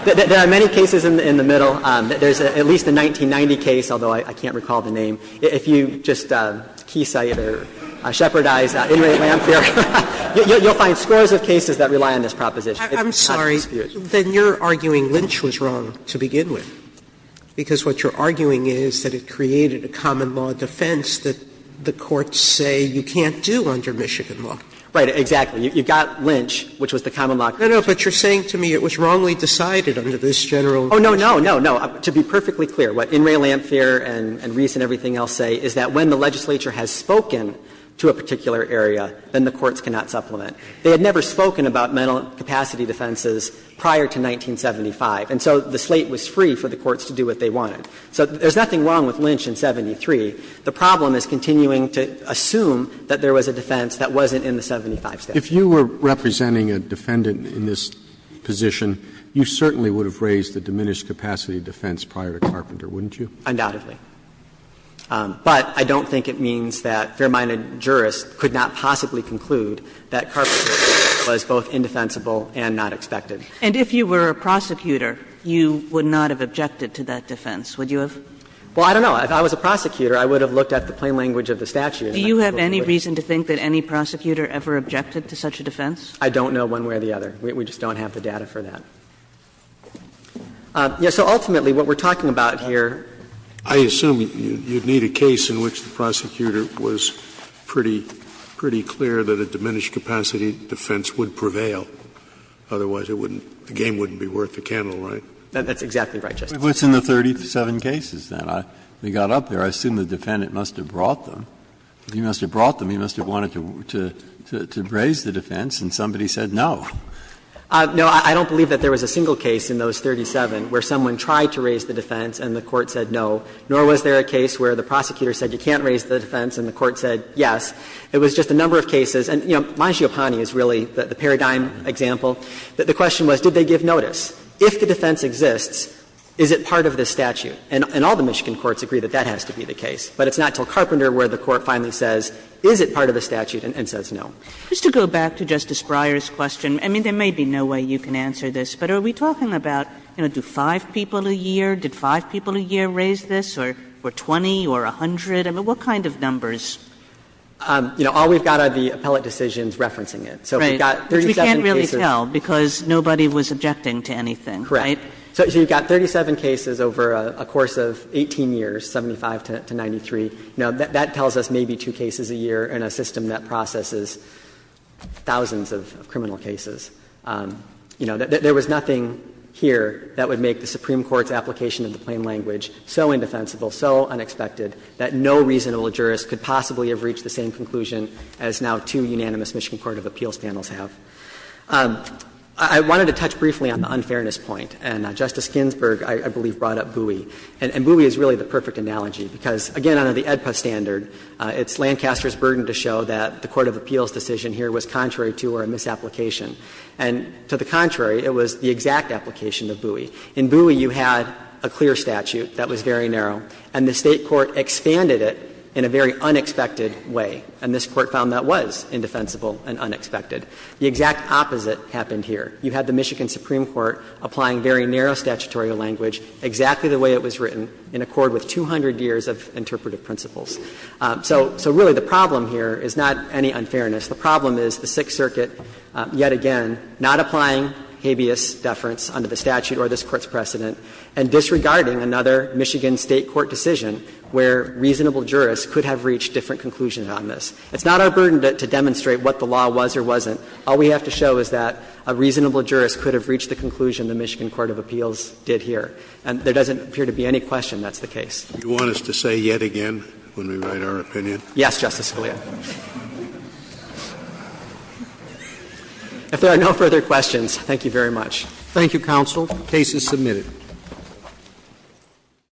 There are many cases in the middle. There's at least a 1990 case, although I can't recall the name. If you just keysight or shepherdize In re Lamphere, you'll find scores of cases that rely on this proposition. Sotomayor, I'm sorry. Then you're arguing Lynch was wrong to begin with, because what you're arguing is that it created a common law defense that the courts say you can't do under Michigan law. Right. Exactly. You've got Lynch, which was the common law. No, no. But you're saying to me it was wrongly decided under this general. Oh, no, no, no, no. To be perfectly clear, what In re Lamphere and Reese and everything else say is that when the legislature has spoken to a particular area, then the courts cannot supplement. They had never spoken about mental capacity defenses prior to 1975, and so the slate was free for the courts to do what they wanted. So there's nothing wrong with Lynch in 73. The problem is continuing to assume that there was a defense that wasn't in the 75 statute. If you were representing a defendant in this position, you certainly would have raised the diminished capacity defense prior to Carpenter, wouldn't you? Undoubtedly. But I don't think it means that fair-minded jurists could not possibly conclude that Carpenter's defense was both indefensible and not expected. And if you were a prosecutor, you would not have objected to that defense, would you have? Well, I don't know. If I was a prosecutor, I would have looked at the plain language of the statute. Do you have any reason to think that any prosecutor ever objected to such a defense? I don't know one way or the other. We just don't have the data for that. So ultimately, what we're talking about here. I assume you'd need a case in which the prosecutor was pretty clear that a diminished capacity defense would prevail, otherwise it wouldn't be worth the candle, right? That's exactly right, Justice Scalia. But what's in the 37 cases then? They got up there. I assume the defendant must have brought them. If he must have brought them, he must have wanted to raise the defense, and somebody said no. No, I don't believe that there was a single case in those 37 where someone tried to raise the defense and the court said no, nor was there a case where the prosecutor said you can't raise the defense and the court said yes. It was just a number of cases. And, you know, Mangiopane is really the paradigm example. The question was, did they give notice? If the defense exists, is it part of the statute? And all the Michigan courts agree that that has to be the case. But it's not till Carpenter where the Court finally says, is it part of the statute, and says no. Kagan. Just to go back to Justice Breyer's question, I mean, there may be no way you can answer this, but are we talking about, you know, do five people a year, did five people a year raise this, or 20, or 100? I mean, what kind of numbers? You know, all we've got are the appellate decisions referencing it. So if we've got 37 cases Right, which we can't really tell because nobody was objecting to anything, right? So you've got 37 cases over a course of 18 years, 75 to 93. You know, that tells us maybe two cases a year in a system that processes thousands of criminal cases. You know, there was nothing here that would make the Supreme Court's application of the plain language so indefensible, so unexpected, that no reasonable jurist could possibly have reached the same conclusion as now two unanimous Michigan court of appeals panels have. I wanted to touch briefly on the unfairness point, and Justice Ginsburg, I believe, brought up Bowie. And Bowie is really the perfect analogy, because, again, under the AEDPA standard, it's Lancaster's burden to show that the court of appeals decision here was contrary to or a misapplication. And to the contrary, it was the exact application of Bowie. In Bowie, you had a clear statute that was very narrow, and the State court expanded it in a very unexpected way. And this Court found that was indefensible and unexpected. The exact opposite happened here. You had the Michigan Supreme Court applying very narrow statutory language, exactly the way it was written, in accord with 200 years of interpretive principles. So really, the problem here is not any unfairness. The problem is the Sixth Circuit, yet again, not applying habeas deference under the statute or this Court's precedent, and disregarding another Michigan State court decision where reasonable jurists could have reached different conclusions on this. It's not our burden to demonstrate what the law was or wasn't. All we have to show is that a reasonable jurist could have reached the conclusion the Michigan court of appeals did here. And there doesn't appear to be any question that's the case. Scalia, you want us to say yet again when we write our opinion? Yes, Justice Scalia. If there are no further questions, thank you very much. Thank you, counsel. The case is submitted.